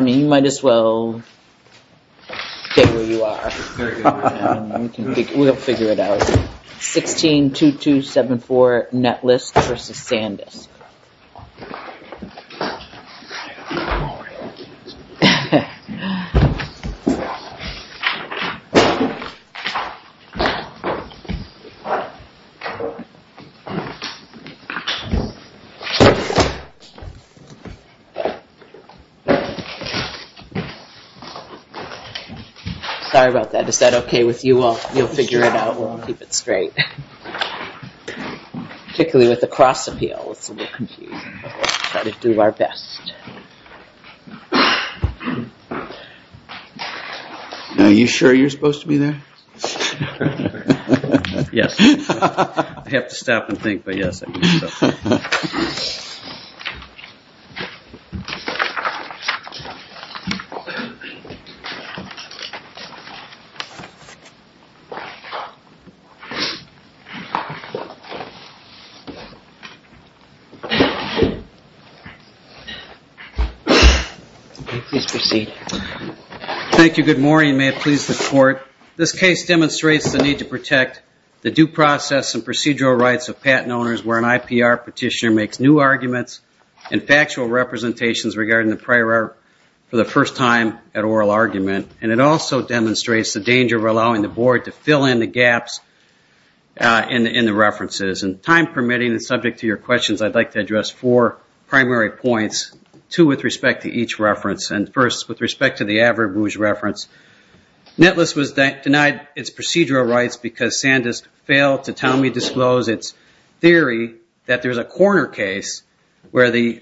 162274 Netlist v. SanDisk Sorry about that. Is that okay with you all? You'll figure it out. We'll keep it straight. Particularly with the cross appeal, it's a little confusing. We'll try to do our best. Are you sure you're supposed to be there? Yes. I have to stop and think, but yes, I am supposed to be there. Please proceed. Thank you. Good morning and may it please the court. This case demonstrates the need to protect the due process and procedural rights of patent owners where an IPR petitioner makes new arguments and factual representations regarding the prior art of the patent. For the first time at oral argument. And it also demonstrates the danger of allowing the board to fill in the gaps in the references. And time permitting and subject to your questions, I'd like to address four primary points, two with respect to each reference. And first, with respect to the Average Rouge reference, Netlist was denied its procedural rights because SanDisk failed to tell me disclose its theory that there's a corner case where the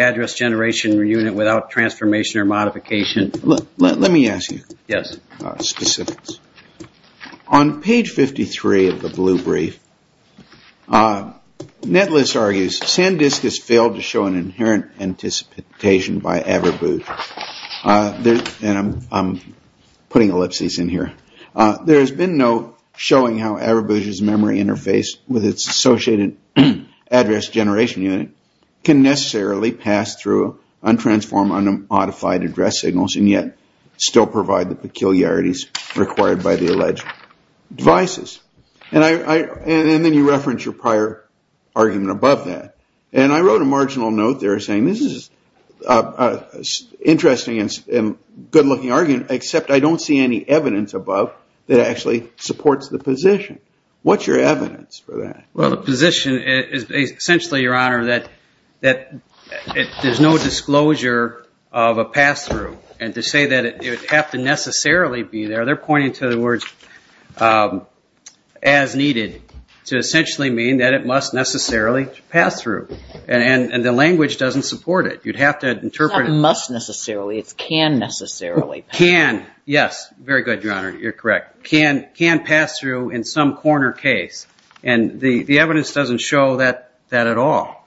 address generation unit without transformation or modification. Let me ask you specifics. On page 53 of the blue brief, Netlist argues SanDisk has failed to show an inherent anticipation by Average Rouge. And I'm putting ellipses in here. There's been no showing how Average Rouge's memory interface with its associated address generation unit can necessarily show a corner case. And yet still provide the peculiarities required by the alleged devices. And then you reference your prior argument above that. And I wrote a marginal note there saying this is an interesting and good-looking argument, except I don't see any evidence above that actually supports the position. What's your evidence for that? Well, the position is essentially, Your Honor, that there's no disclosure of a pass-through. And to say that it would have to necessarily be there, they're pointing to the words as needed to essentially mean that it must necessarily pass through. And the language doesn't support it. You'd have to interpret it. It's not must necessarily, it's can necessarily. Can, yes. Very good, Your Honor. You're correct. Can pass through in some corner case. And the evidence doesn't show that at all.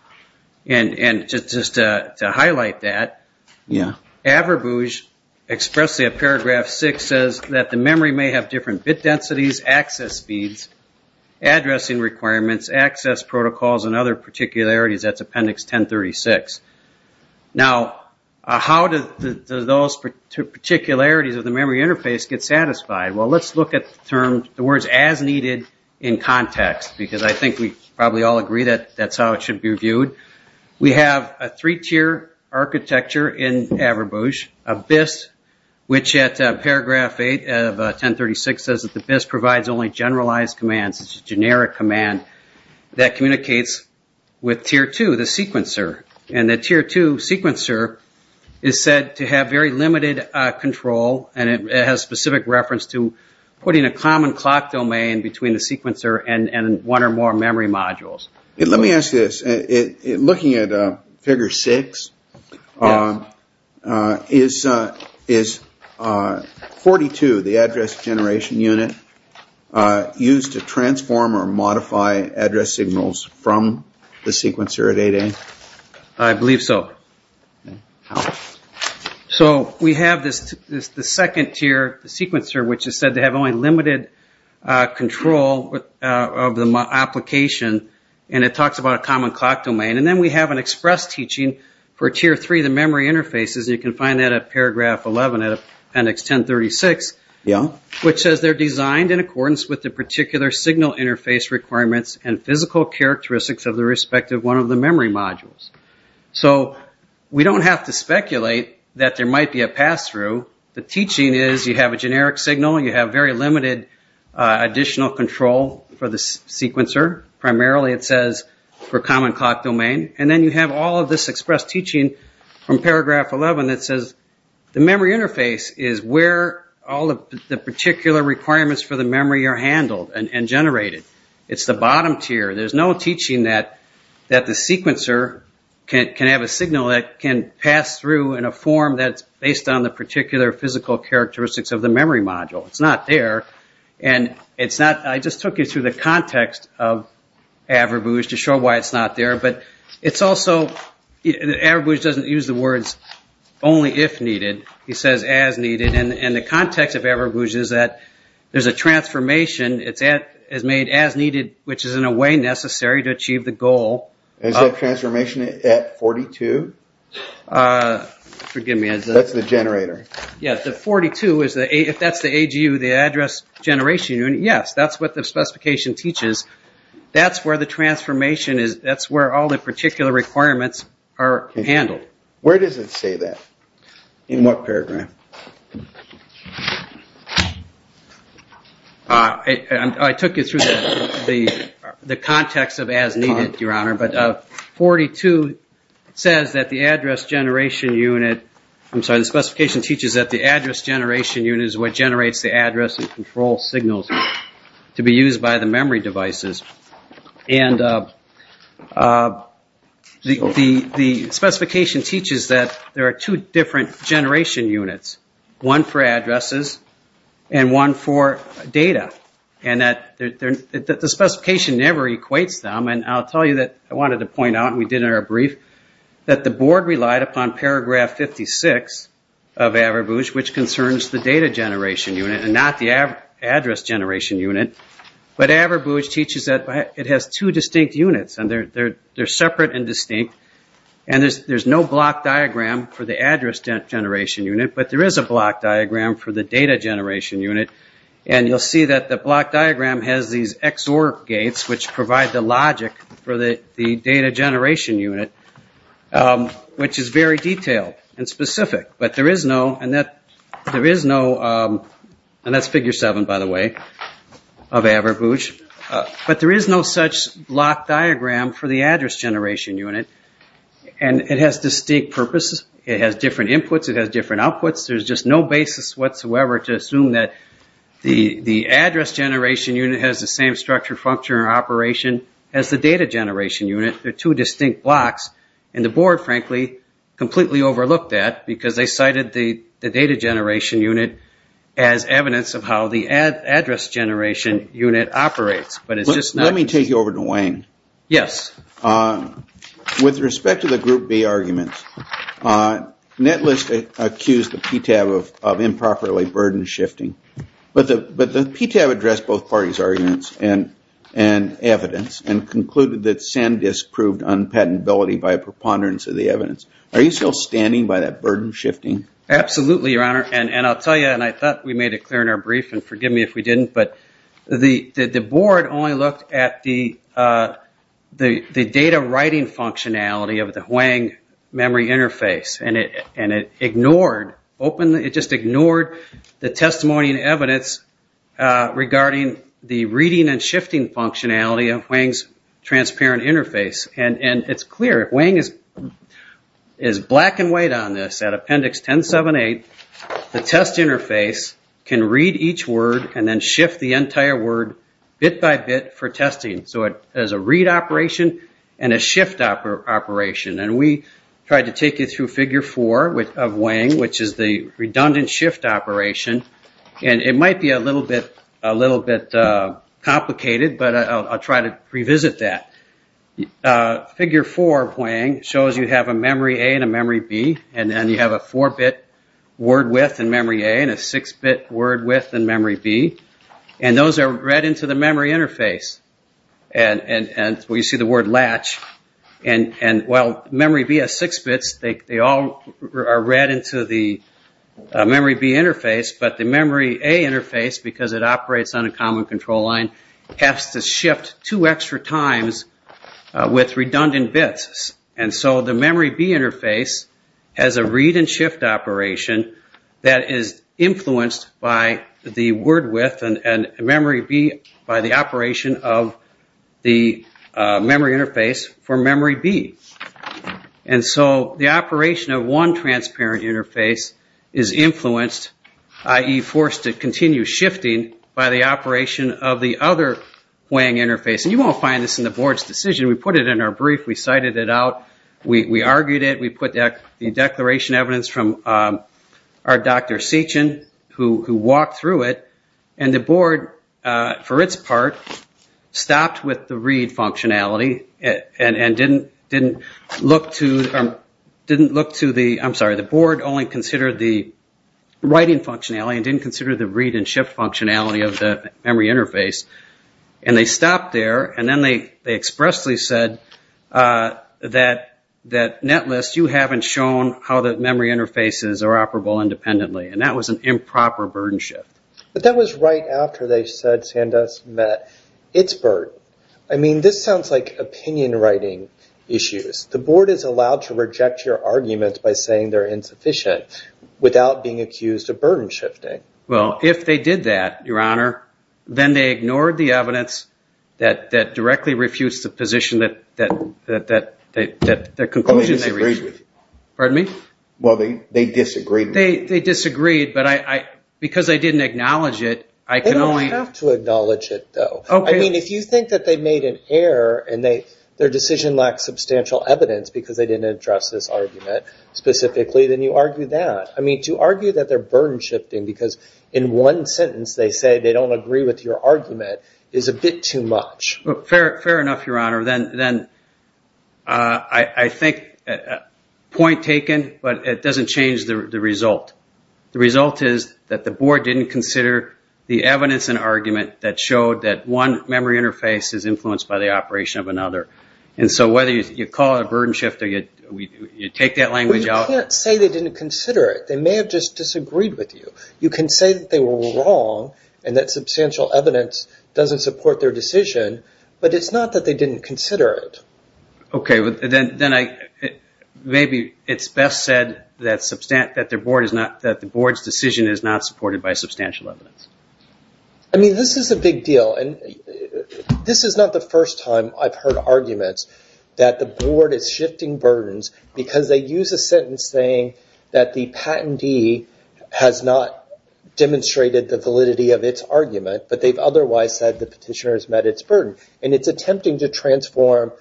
And just to highlight that, Average Rouge expressly in paragraph 6 says that the memory may have different bit densities, access speeds, addressing requirements, access protocols and other particularities. That's appendix 1036. Now, how do those particularities relate to Average Rouge? How do those particularities of the memory interface get satisfied? Well, let's look at the words as needed in context, because I think we probably all agree that that's how it should be reviewed. We have a three-tier architecture in Average Rouge. A BIS, which at paragraph 8 of 1036 says that the BIS provides only generalized commands, it's a generic command that communicates with Tier 2, the sequencer. And the Tier 2 sequencer is said to have very limited control and it has specific reference to putting a common clock domain between the sequencer and one or more memory modules. Let me ask you this. Looking at figure 6, is 42, the address generation unit, used to transform or modify address signals from the sequencer at 8A? I believe so. So we have the second tier, the sequencer, which is said to have only limited control of the application and it talks about a common clock domain. And then we have an express teaching for Tier 3, the memory interfaces. You can find that at paragraph 11 of appendix 1036, which says they're designed in accordance with the particular signal interface requirements and physical characteristics of the respective one of the memory modules. So we don't have to speculate that there might be a pass-through. The teaching is you have a generic signal, you have very limited additional control for the sequencer. Primarily it says for common clock domain. And then you have all of this express teaching from paragraph 11 that says the memory interface is where all of the particular requirements for the memory are handled and generated. It's the bottom tier. There's no teaching that the sequencer can have a signal that can pass through in a form that's based on the particular physical characteristics of the memory module. It's not there. I just took you through the context of AverBooz to show why it's not there. But it's also, AverBooz doesn't use the words only if needed. He says as needed. And the context of AverBooz is that there's a transformation, it's made as needed, which is in a way necessary to achieve the goal. Is that transformation at 42? That's the generator. Yes, the 42, if that's the AGU, the address generation unit, yes, that's what the specification teaches. That's where the transformation is, that's where all the particular requirements are handled. Where does it say that? In what paragraph? I took you through the context of as needed, Your Honor, but 42 says that the address generation unit, I'm sorry, the specification teaches that the address generation unit is what generates the address and control signals to be used by the memory devices. And the specification teaches that there are two different generation units, one for addresses and one for data. And that the specification never equates them, and I'll tell you that I wanted to point out, and we did it in our brief, that the board relied upon paragraph 56 of AverBooz, which concerns the data generation unit and not the address generation unit. But AverBooz teaches that it has two distinct units, and they're separate and distinct, and there's no block diagram for the address generation unit, but there is a block diagram for the data generation unit. And you'll see that the block diagram has these XOR gates, which provide the logic for the data generation unit, which is very detailed and specific. But there is no, and that's figure seven, by the way, of AverBooz, but there is no such block diagram for the address generation unit, and it has distinct purposes. It has different inputs, it has different outputs, there's just no basis whatsoever to assume that the address generation unit has the same structure, function, or operation as the data generation unit. There are two distinct blocks, and the board, frankly, completely overlooked that, because they cited the data generation unit as evidence of how the address generation unit operates. Let me take you over to Wayne. With respect to the group B arguments, Netlist accused the PTAB of improperly burden shifting, but the PTAB addressed both parties' arguments and evidence, and disproved unpatentability by preponderance of the evidence. Are you still standing by that burden shifting? Absolutely, Your Honor, and I'll tell you, and I thought we made it clear in our brief, and forgive me if we didn't, but the board only looked at the data writing functionality of the HUANG memory interface, and it ignored, it just ignored the testimony and evidence regarding the reading and shifting functionality of HUANG's transparent interface. It's clear, HUANG is black and white on this. At appendix 1078, the test interface can read each word and then shift the entire word bit by bit for testing, so it has a read operation and a shift operation. We tried to take you through figure four of HUANG, which is the redundant shift operation, and it might be a little bit complicated, but I'll try to revisit that. Figure four of HUANG shows you have a memory A and a memory B, and then you have a four-bit word width in memory A and a six-bit word width in memory B, and those are read into the memory interface. Well, you see the word latch, and while memory B has six bits, they all are read into the memory B interface, but the memory A interface, because it operates on a common control line, has to shift two extra times with redundant bits. So the memory B interface has a read and shift operation that is influenced by the word width and memory B by the operation of the memory interface for memory B. And so the operation of one transparent interface is influenced, i.e. forced to continue shifting by the operation of the other HUANG interface, and you won't find this in the board's decision. We put it in our brief, we cited it out, we argued it, we put the declaration evidence from our Dr. Sechin, who walked through it, and the board, for its part, didn't consider the reading functionality and didn't look to the, I'm sorry, the board only considered the writing functionality and didn't consider the read and shift functionality of the memory interface. And they stopped there, and then they expressly said that Netlist, you haven't shown how the memory interfaces are operable independently. And that was an improper burden shift. So this sounds like opinion writing issues. The board is allowed to reject your arguments by saying they're insufficient without being accused of burden shifting. Well, if they did that, your honor, then they ignored the evidence that directly refutes the position that the conclusion they reached. Pardon me? Well, they disagreed with it. They disagreed, but because they didn't acknowledge it, I can only... They don't have to acknowledge it, though. I mean, if you think that they made an error and their decision lacked substantial evidence because they didn't address this argument specifically, then you argue that. I mean, to argue that they're burden shifting because in one sentence they say they don't agree with your argument is a bit too much. Fair enough, your honor. Then I think, point taken, but it doesn't change the result. The result is that the board didn't consider the evidence and argument that showed that one memory interface is influenced by the operation of another. And so whether you call it a burden shift or you take that language out... Well, you can't say they didn't consider it. They may have just disagreed with you. You can say that they were wrong and that substantial evidence doesn't support their decision, but it's not that they didn't consider it. Okay, then maybe it's best said that the board's decision is not supported by substantial evidence. I mean, this is a big deal, and this is not the first time I've heard arguments that the board is shifting burdens because they use a sentence saying that the patentee has not demonstrated the validity of its argument, but they've otherwise said the petitioner has met its burden. And it's attempting to transform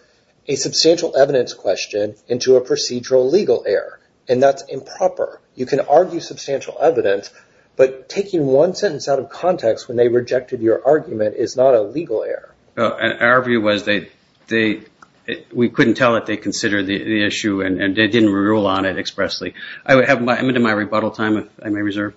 a substantial evidence question into a procedural legal error, and that's improper. You can argue substantial evidence, but taking one sentence out of context when they rejected your argument is not a legal error. Our view was that we couldn't tell that they considered the issue and they didn't rule on it expressly. I'm into my rebuttal time, if I may reserve.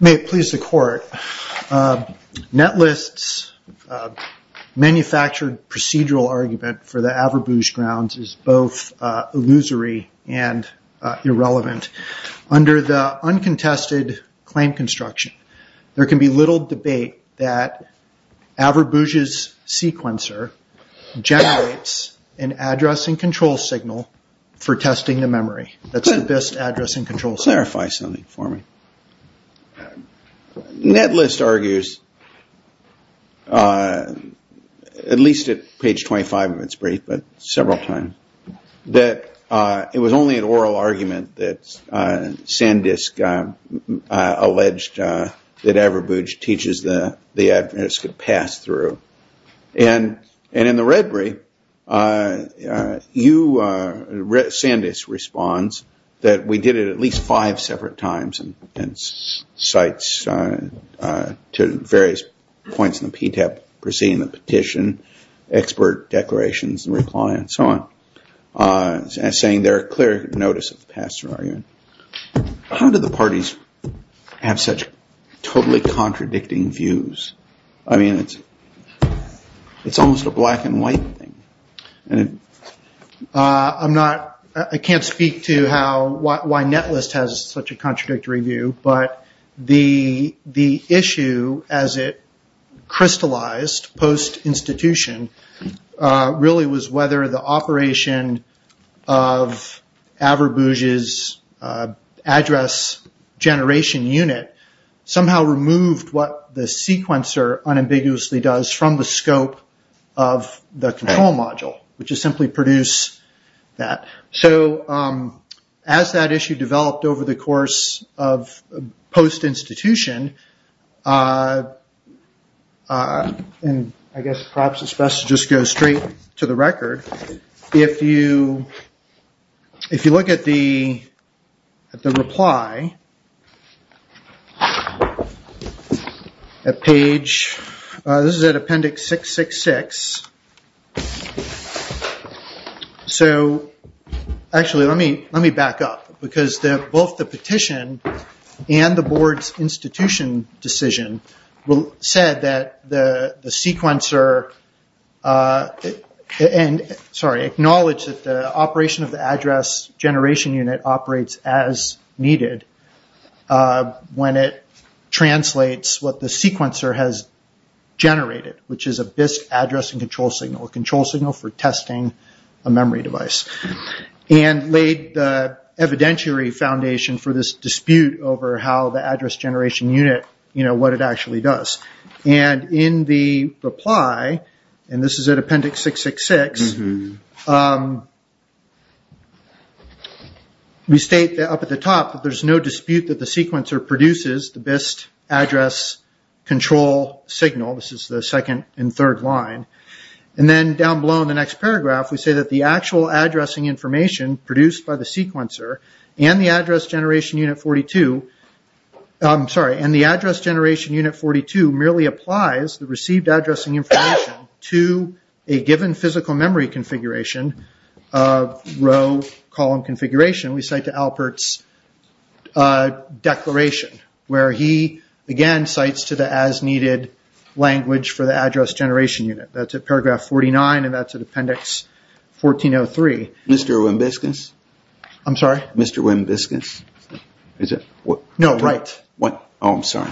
May it please the court. Netlist's manufactured procedural argument for the Averbouge grounds is both illusory and irrelevant. Under the uncontested claim construction, there can be little debate that Averbouge's sequencer generates an address and control signal for testing the memory. That's the best address and control signal. Clarify something for me. Netlist argues, at least at page 25 of its brief, but several times, that it was only an oral argument that Sandisk alleged that Averbouge teaches the address could pass through. And in the Redbury, Sandisk responds that we did it at least five separate times and cites to various points in the PTAP proceeding the petition, expert declarations and reply and so on. Saying there are clear notice of the pass through argument. How do the parties have such totally contradicting views? It's almost a black and white thing. I can't speak to why Netlist has such a contradictory view, but the issue as it crystallized post-institution really was whether the operation of Averbouge's address generation unit somehow removed what the sequencer unambiguously does from the scope of the control module, which is simply produce that. As that issue developed over the course of post-institution, and I guess perhaps it's best to just go straight to the record, if you look at the reply, at page, this is at appendix 666. Actually, let me back up, because both the petition and the board's institution decision said that the sequencer, sorry, acknowledged that the operation of the address generation unit operates as needed when it translates what the sequencer has generated, which is a BIS address and control signal. A control signal for testing a memory device. And laid the evidentiary foundation for this dispute over how the address generation unit, what it actually does. And in the reply, and this is at appendix 666, it says, we state up at the top that there's no dispute that the sequencer produces the BIS address control signal. This is the second and third line. And then down below in the next paragraph, we say that the actual addressing information produced by the sequencer and the address generation unit 42, merely applies the received addressing information to a given physical memory configuration of row, column, and column. We cite to Alpert's declaration, where he, again, cites to the as-needed language for the address generation unit. That's at paragraph 49, and that's at appendix 1403. Mr. Wimbiscus? No, right. I'm sorry.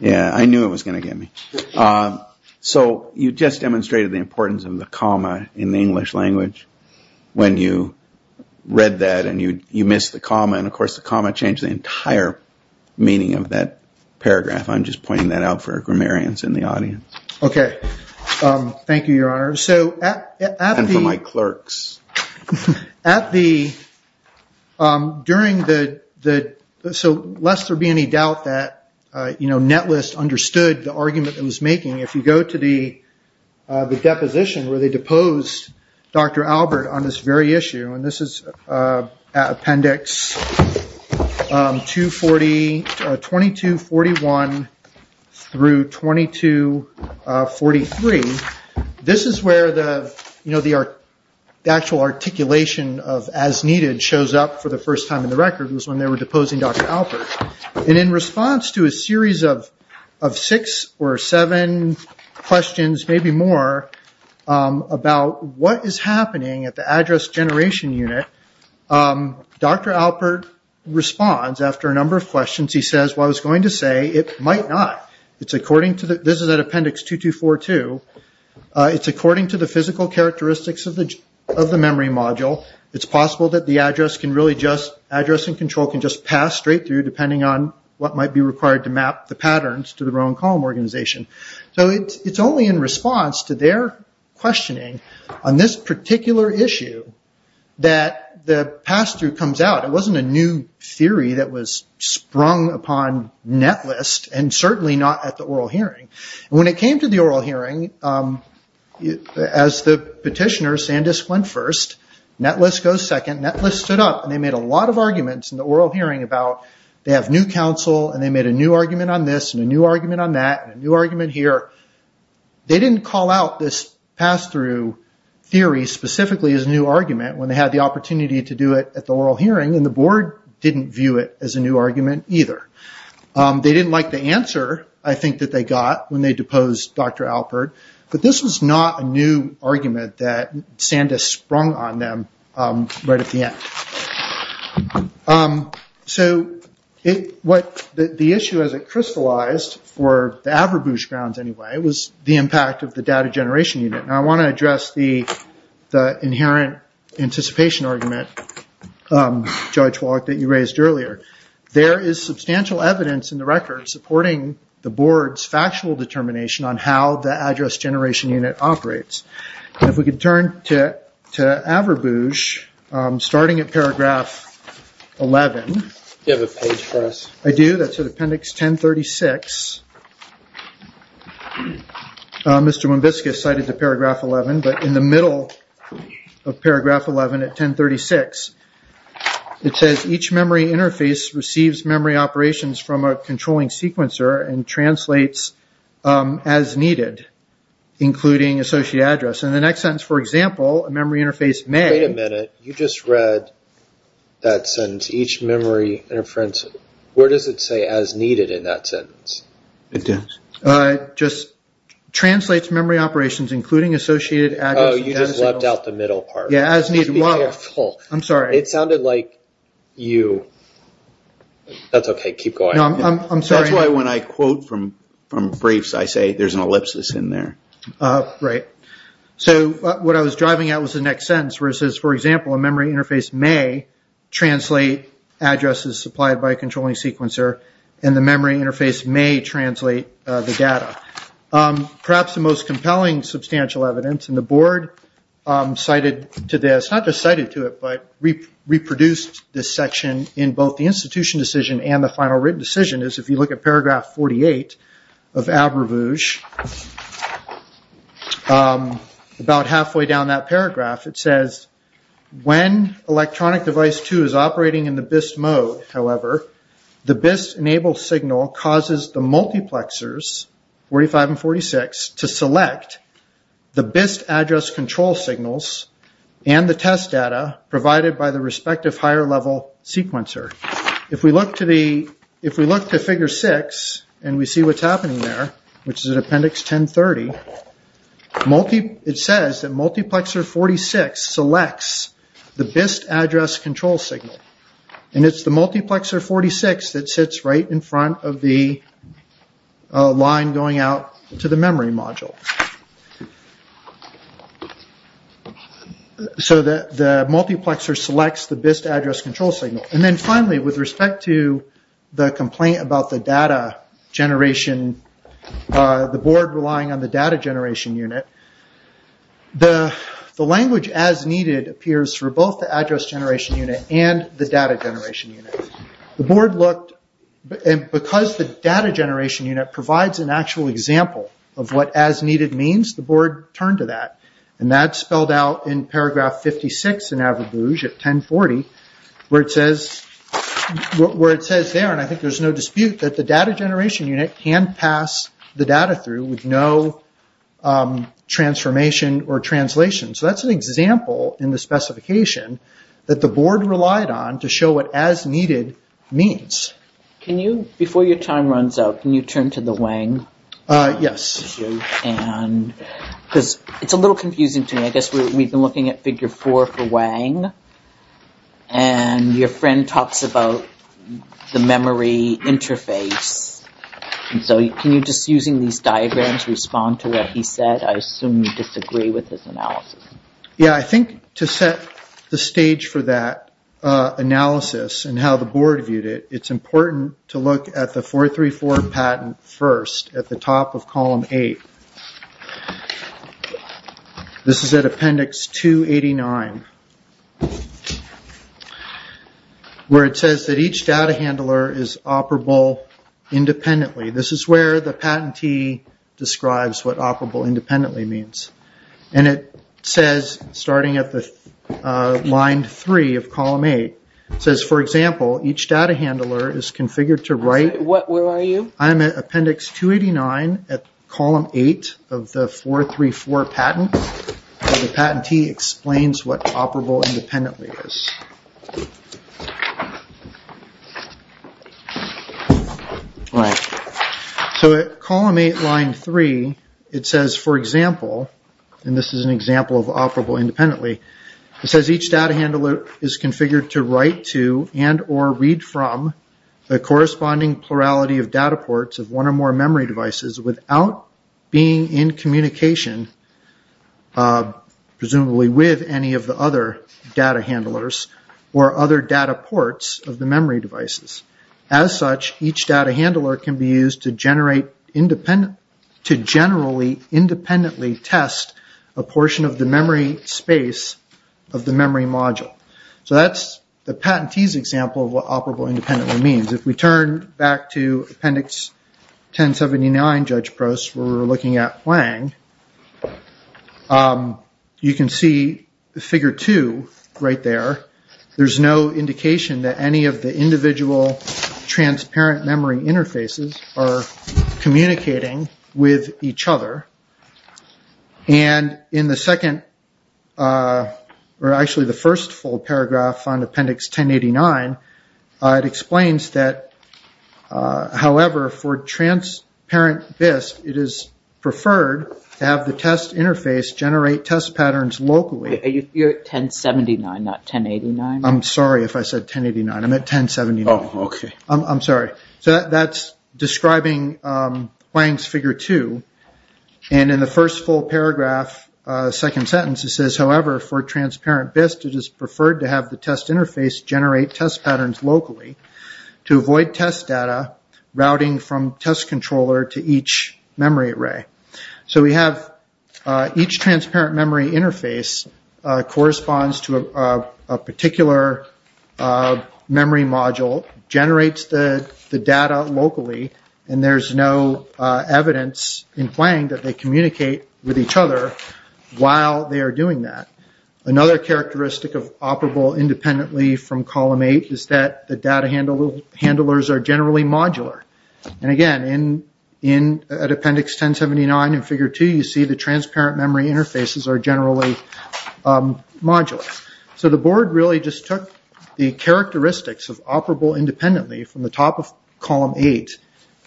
Yeah, I knew it was going to get me. So you just demonstrated the importance of the comma in the English language when you read that and you missed the comma. And of course, the comma changed the entire meaning of that paragraph. I'm just pointing that out for grammarians in the audience. Okay. Thank you, Your Honor. And for my clerks. So lest there be any doubt that Netlist understood the argument it was making, if you go to the deposition where they deposed Dr. Albert on this very issue, and this is appendix 2241 through 2243, this is where the actual articulation of as-needed shows up for the first time in the record. It was when they were deposing Dr. Albert. And in response to a series of six or seven questions, maybe more, about what is happening at the address generation unit, the agency says, well, I was going to say it might not. This is at appendix 2242. It's according to the physical characteristics of the memory module. It's possible that the address and control can just pass straight through, depending on what might be required to map the patterns to the row and column organization. So it's only in response to their questioning on this particular issue that the pass-through comes out. It wasn't a new theory that was sprung upon Netlist, and certainly not at the oral hearing. When it came to the oral hearing, as the petitioner, Sandisk, went first, Netlist goes second, Netlist stood up, and they made a lot of arguments in the oral hearing about, they have new counsel, and they made a new argument on this, and a new argument on that, and a new argument here. They didn't call out this pass-through theory specifically as a new argument when they had the opportunity to do it at the oral hearing, and the board didn't view it as a new argument either. They didn't like the answer, I think, that they got when they deposed Dr. Albert, but this was not a new argument that Sandisk sprung on them right at the end. The issue as it crystallized, for the Averbouche grounds anyway, was the impact of the data generation unit. I want to address the inherent anticipation argument, Judge Wallach, that you raised earlier. There is substantial evidence in the record supporting the board's factual determination on how the address generation unit operates. If we could turn to Averbouche, starting at paragraph 11. Do you have a page for us? I do, that's at appendix 1036. Mr. Wimbiscus cited the paragraph 11, but in the middle of paragraph 11 at 1036, it says, each memory interface receives memory operations from a controlling sequencer and translates as needed, including associated address. In the next sentence, for example, a memory interface may... Wait a minute, you just read that sentence, each memory interface... Where does it say as needed in that sentence? It just translates memory operations including associated address... Oh, you just left out the middle part. Be careful. It sounded like you... That's okay, keep going. That's why when I quote from briefs, I say there's an ellipsis in there. So what I was driving at was the next sentence, where it says, for example, a memory interface may translate addresses supplied by a controlling sequencer, and the memory interface may translate the data. Perhaps the most compelling substantial evidence, and the board cited to this, but reproduced this section in both the institution decision and the final written decision, is if you look at paragraph 48 of Abrevouge, about halfway down that paragraph, it says, when electronic device 2 is operating in the BIST mode, however, the BIST enable signal causes the multiplexers, 45 and 46, to select the BIST address control signals and the test data provided by the respective higher level sequencer. If we look to figure 6, and we see what's happening there, which is at appendix 1030, it says that multiplexer 46 selects the BIST address control signal, and it's the multiplexer 46 that sits right in front of the line going out to the memory. So the multiplexer selects the BIST address control signal. Finally, with respect to the complaint about the data generation, the board relying on the data generation unit, the language as needed appears for both the address generation unit and the data generation unit. The board looked, because the data generation unit provides an actual example of what as needed means, the board turned to that. That's spelled out in paragraph 56 in Abrevouge at 1040, where it says there, and I think there's no dispute, that the data generation unit can pass the data through with no transformation or translation. So that's an example in the specification that the board relied on to show what as needed means. Before your time runs out, can you turn to the Wang issue? It's a little confusing to me. I guess we've been looking at figure four for Wang, and your friend talks about the memory interface. Can you, just using these diagrams, respond to what he said? I assume you disagree with his analysis. Yeah, I think to set the stage for that analysis, and how the board viewed it, it's important to look at the 434 patent first, at the top of column eight. This is at appendix 289, where it says that each data handler is operable independently. This is where the patentee describes what operable independently means. It says, starting at line three of column eight, it says, for example, each data handler is configured to write... Where are you? I'm at appendix 289 at column eight of the 434 patent, where the patentee explains what operable independently is. At column eight, line three, it says, for example, and this is an example of operable independently, it says each data handler is configured to write to and or read from the corresponding plurality of data ports of one or more memory devices without being in communication, presumably with any of the other data handlers, or other data ports of the memory devices. As such, each data handler can be used to generally independently test a portion of the memory space of the memory module. That's the patentee's example of what operable independently means. If we turn back to appendix 1079, where we're looking at Hwang, you can see the figure two right there. There's no indication that any of the individual transparent memory interfaces are communicating with each other. In the second, or actually the first full paragraph on appendix 1089, it explains that, however, for transparent BIS, it is preferred to have the test interface generate test patterns locally. You're at 1079, not 1089? I'm sorry if I said 1089. I'm at 1079. That's describing Hwang's figure two. In the first full paragraph, second sentence, it says, however, for transparent BIS, it is preferred to have the test interface generate test patterns locally to avoid test data routing from test controller to each memory array. We have each transparent memory interface corresponds to a particular memory module, generates the data locally, and there's no evidence in Hwang that they communicate with each other while they are doing that. Another characteristic of operable independently from column eight is that the data handlers are generally modular. Again, at appendix 1079 in figure two, you see the transparent memory interfaces are generally modular. The board really just took the characteristics of operable independently from the top of column eight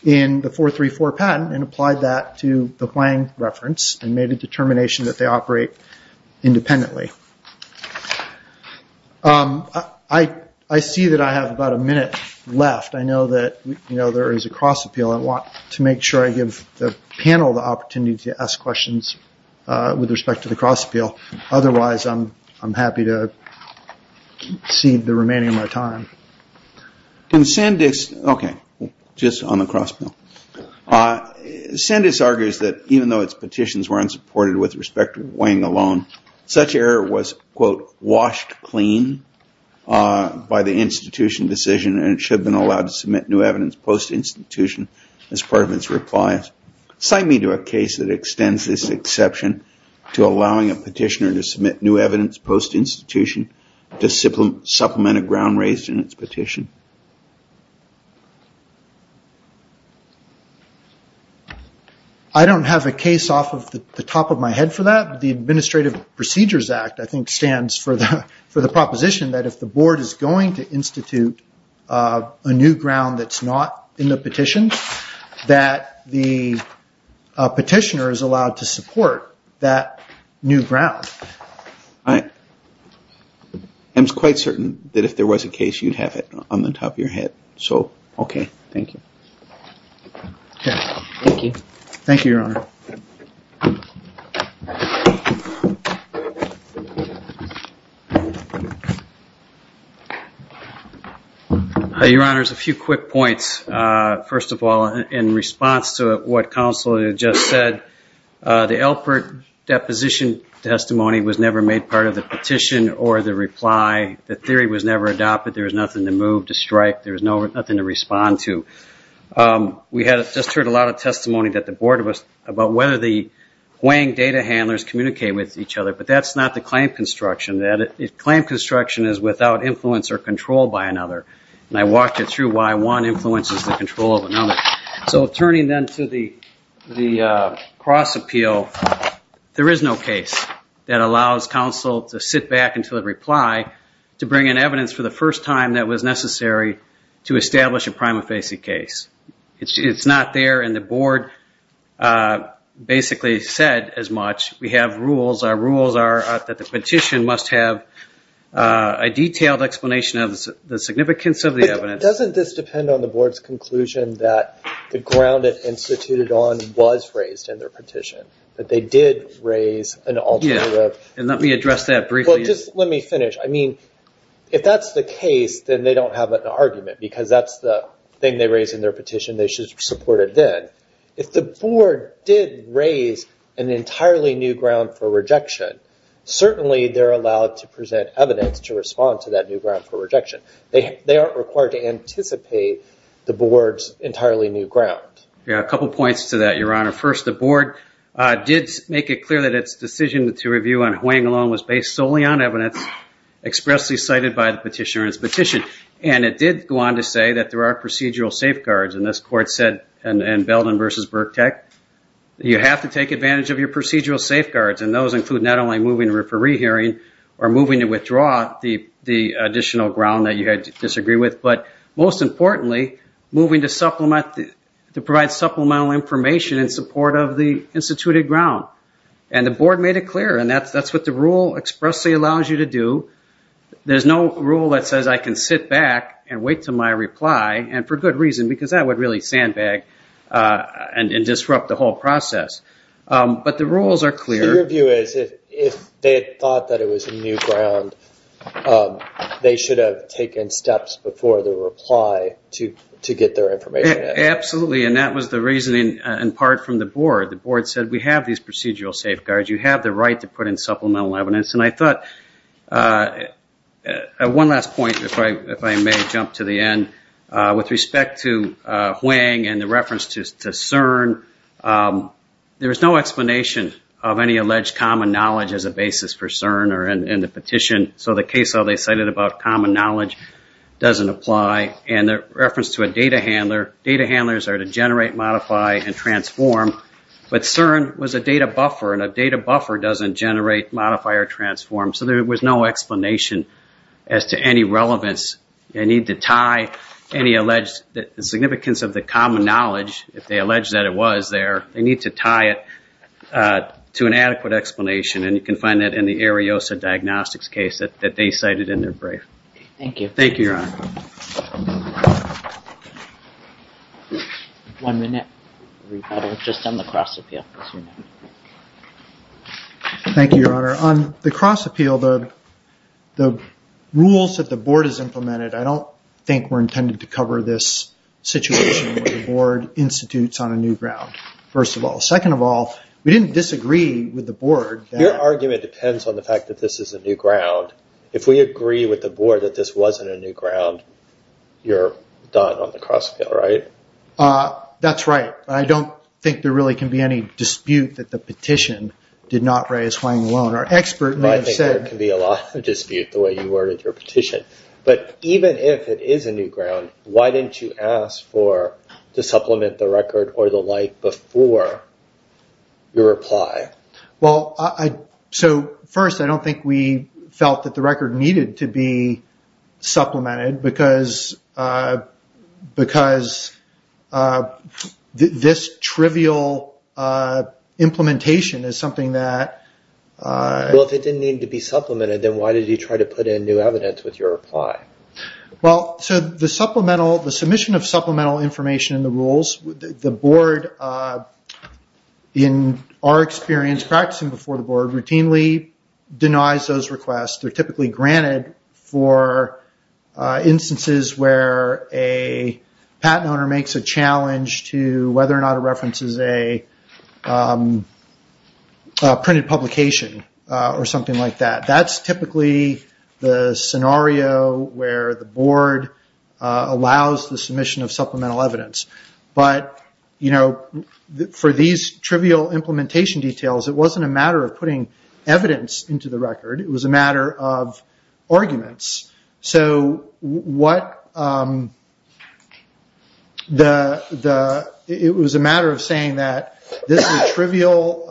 in the 434 patent and applied that to the Hwang reference and made a determination that they operate independently. I see that I have about a minute left. I know that there is a cross-appeal. I want to make sure I give the panel the opportunity to ask questions with respect to the Hwang reference. I'd be happy to see the remaining of my time. Can send this? OK, just on the cross. Send us argues that even though its petitions were unsupported with respect to Hwang alone, such error was, quote, washed clean by the institution decision and should have been allowed to submit new evidence post institution as part of its replies. Sign me to a case that extends this exception to allowing a petitioner to submit new evidence post institution to supplement a ground raised in its petition. I don't have a case off the top of my head for that. The Administrative Procedures Act, I think, stands for the proposition that if the board is going to submit a case, the petitioner is allowed to support that new ground. I'm quite certain that if there was a case, you'd have it on the top of your head. So, OK, thank you. Thank you, Your Honor. Your Honor, a few quick points. First of all, in response to what counsel just said, the Alpert deposition testimony was never made part of the petition or the reply. The theory was never adopted. There was nothing to move to strike. There was nothing to respond to. We had just heard a lot of testimony that the board of us about whether the data handlers communicate with each other, but that's not the claim construction. Claim construction is without influence or control by another, and I walked you through why one influences the control of another. So turning then to the cross appeal, there is no case that allows counsel to sit back until the reply to bring in evidence for the first time that was necessary to establish a prima facie case. It's not there, and the board basically said as much. We have rules. Our rules are that the petition must have a detailed explanation of the significance of the evidence. Doesn't this depend on the board's conclusion that the ground it instituted on was raised in their petition, that they did raise an alternative? Let me finish. If that's the case, then they don't have an argument because that's the thing they raised in their petition. They should support it then. If the board did raise an entirely new ground for rejection, certainly they're allowed to present evidence to respond to that new ground for rejection. They aren't required to anticipate the board's entirely new ground. A couple points to that, Your Honor. First, the board did make it clear that its decision to review on Hwang alone was based solely on evidence expressly cited by the petitioner in its petition. And it did go on to say that there are procedural safeguards, and this court said in Belden v. Burk-Tech, you have to take advantage of your procedural safeguards, and those include not only moving to referee hearing or moving to withdraw the additional ground that you had to disagree with, but most importantly, moving to provide supplemental information in support of the instituted ground. And the board made it clear, and that's what the rule expressly allows you to do. There's no rule that says I can sit back and wait to my reply, and for good reason, because that would really sandbag and disrupt the whole process. But the rules are clear. Your view is, if they had thought that it was a new ground, they should have taken steps before the reply to get their information out. Absolutely, and that was the reasoning in part from the board. The board said, we have these procedural safeguards. You have the right to put in supplemental evidence. And I thought, one last point, if I may jump to the end, with respect to Hwang and the reference to CERN, there's no explanation of any alleged common knowledge as a basis for CERN or in the petition. So the case they cited about common knowledge doesn't apply. And the reference to a data handler, data handlers are to generate, modify, and transform. But CERN was a data buffer, and a data buffer doesn't generate, modify, or transform. So there was no explanation as to any relevance. You need to tie any alleged significance of the common knowledge, if they allege that it was there, they need to tie it to an adequate explanation. And you can find that in the Ariosa Diagnostics case that they cited in their brief. Thank you, Your Honor. Thank you, Your Honor. On the cross appeal, the rules that the board has implemented, I don't think were intended to cover this situation where the board institutes on a new ground, first of all. Second of all, we didn't disagree with the board. Your argument depends on the fact that this is a new ground. If we agree with the board that this wasn't a new ground, you're done on the cross appeal, right? That's right. I don't think there really can be any dispute that the petition did not raise Hwang Wong, our expert. I think there can be a lot of dispute, the way you worded your petition. But even if it is a new ground, why didn't you ask to supplement the record or the like before your reply? First, I don't think we felt that the record needed to be supplemented, because this trivial implementation is something that... If it didn't need to be supplemented, then why did you try to put in new evidence with your reply? The submission of supplemental information in the rules, the board, in our experience practicing before the board, routinely denies those requests. They're typically granted for instances where a patent owner makes a challenge to whether or not it references a printed publication or something like that. That's typically the scenario where the board allows the submission of supplemental evidence. For these trivial implementation details, it wasn't a matter of putting evidence into the record. It was a matter of arguments. It was a matter of saying that this is a trivial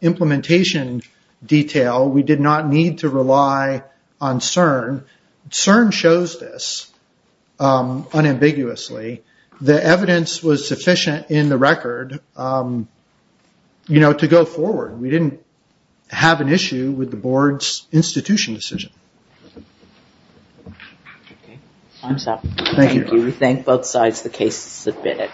implementation detail. We did not need to rely on CERN. CERN shows this unambiguously. The evidence was sufficient in the record to go forward. We didn't have an issue with the board's institution decision. Thank you. We thank both sides. The case is submitted.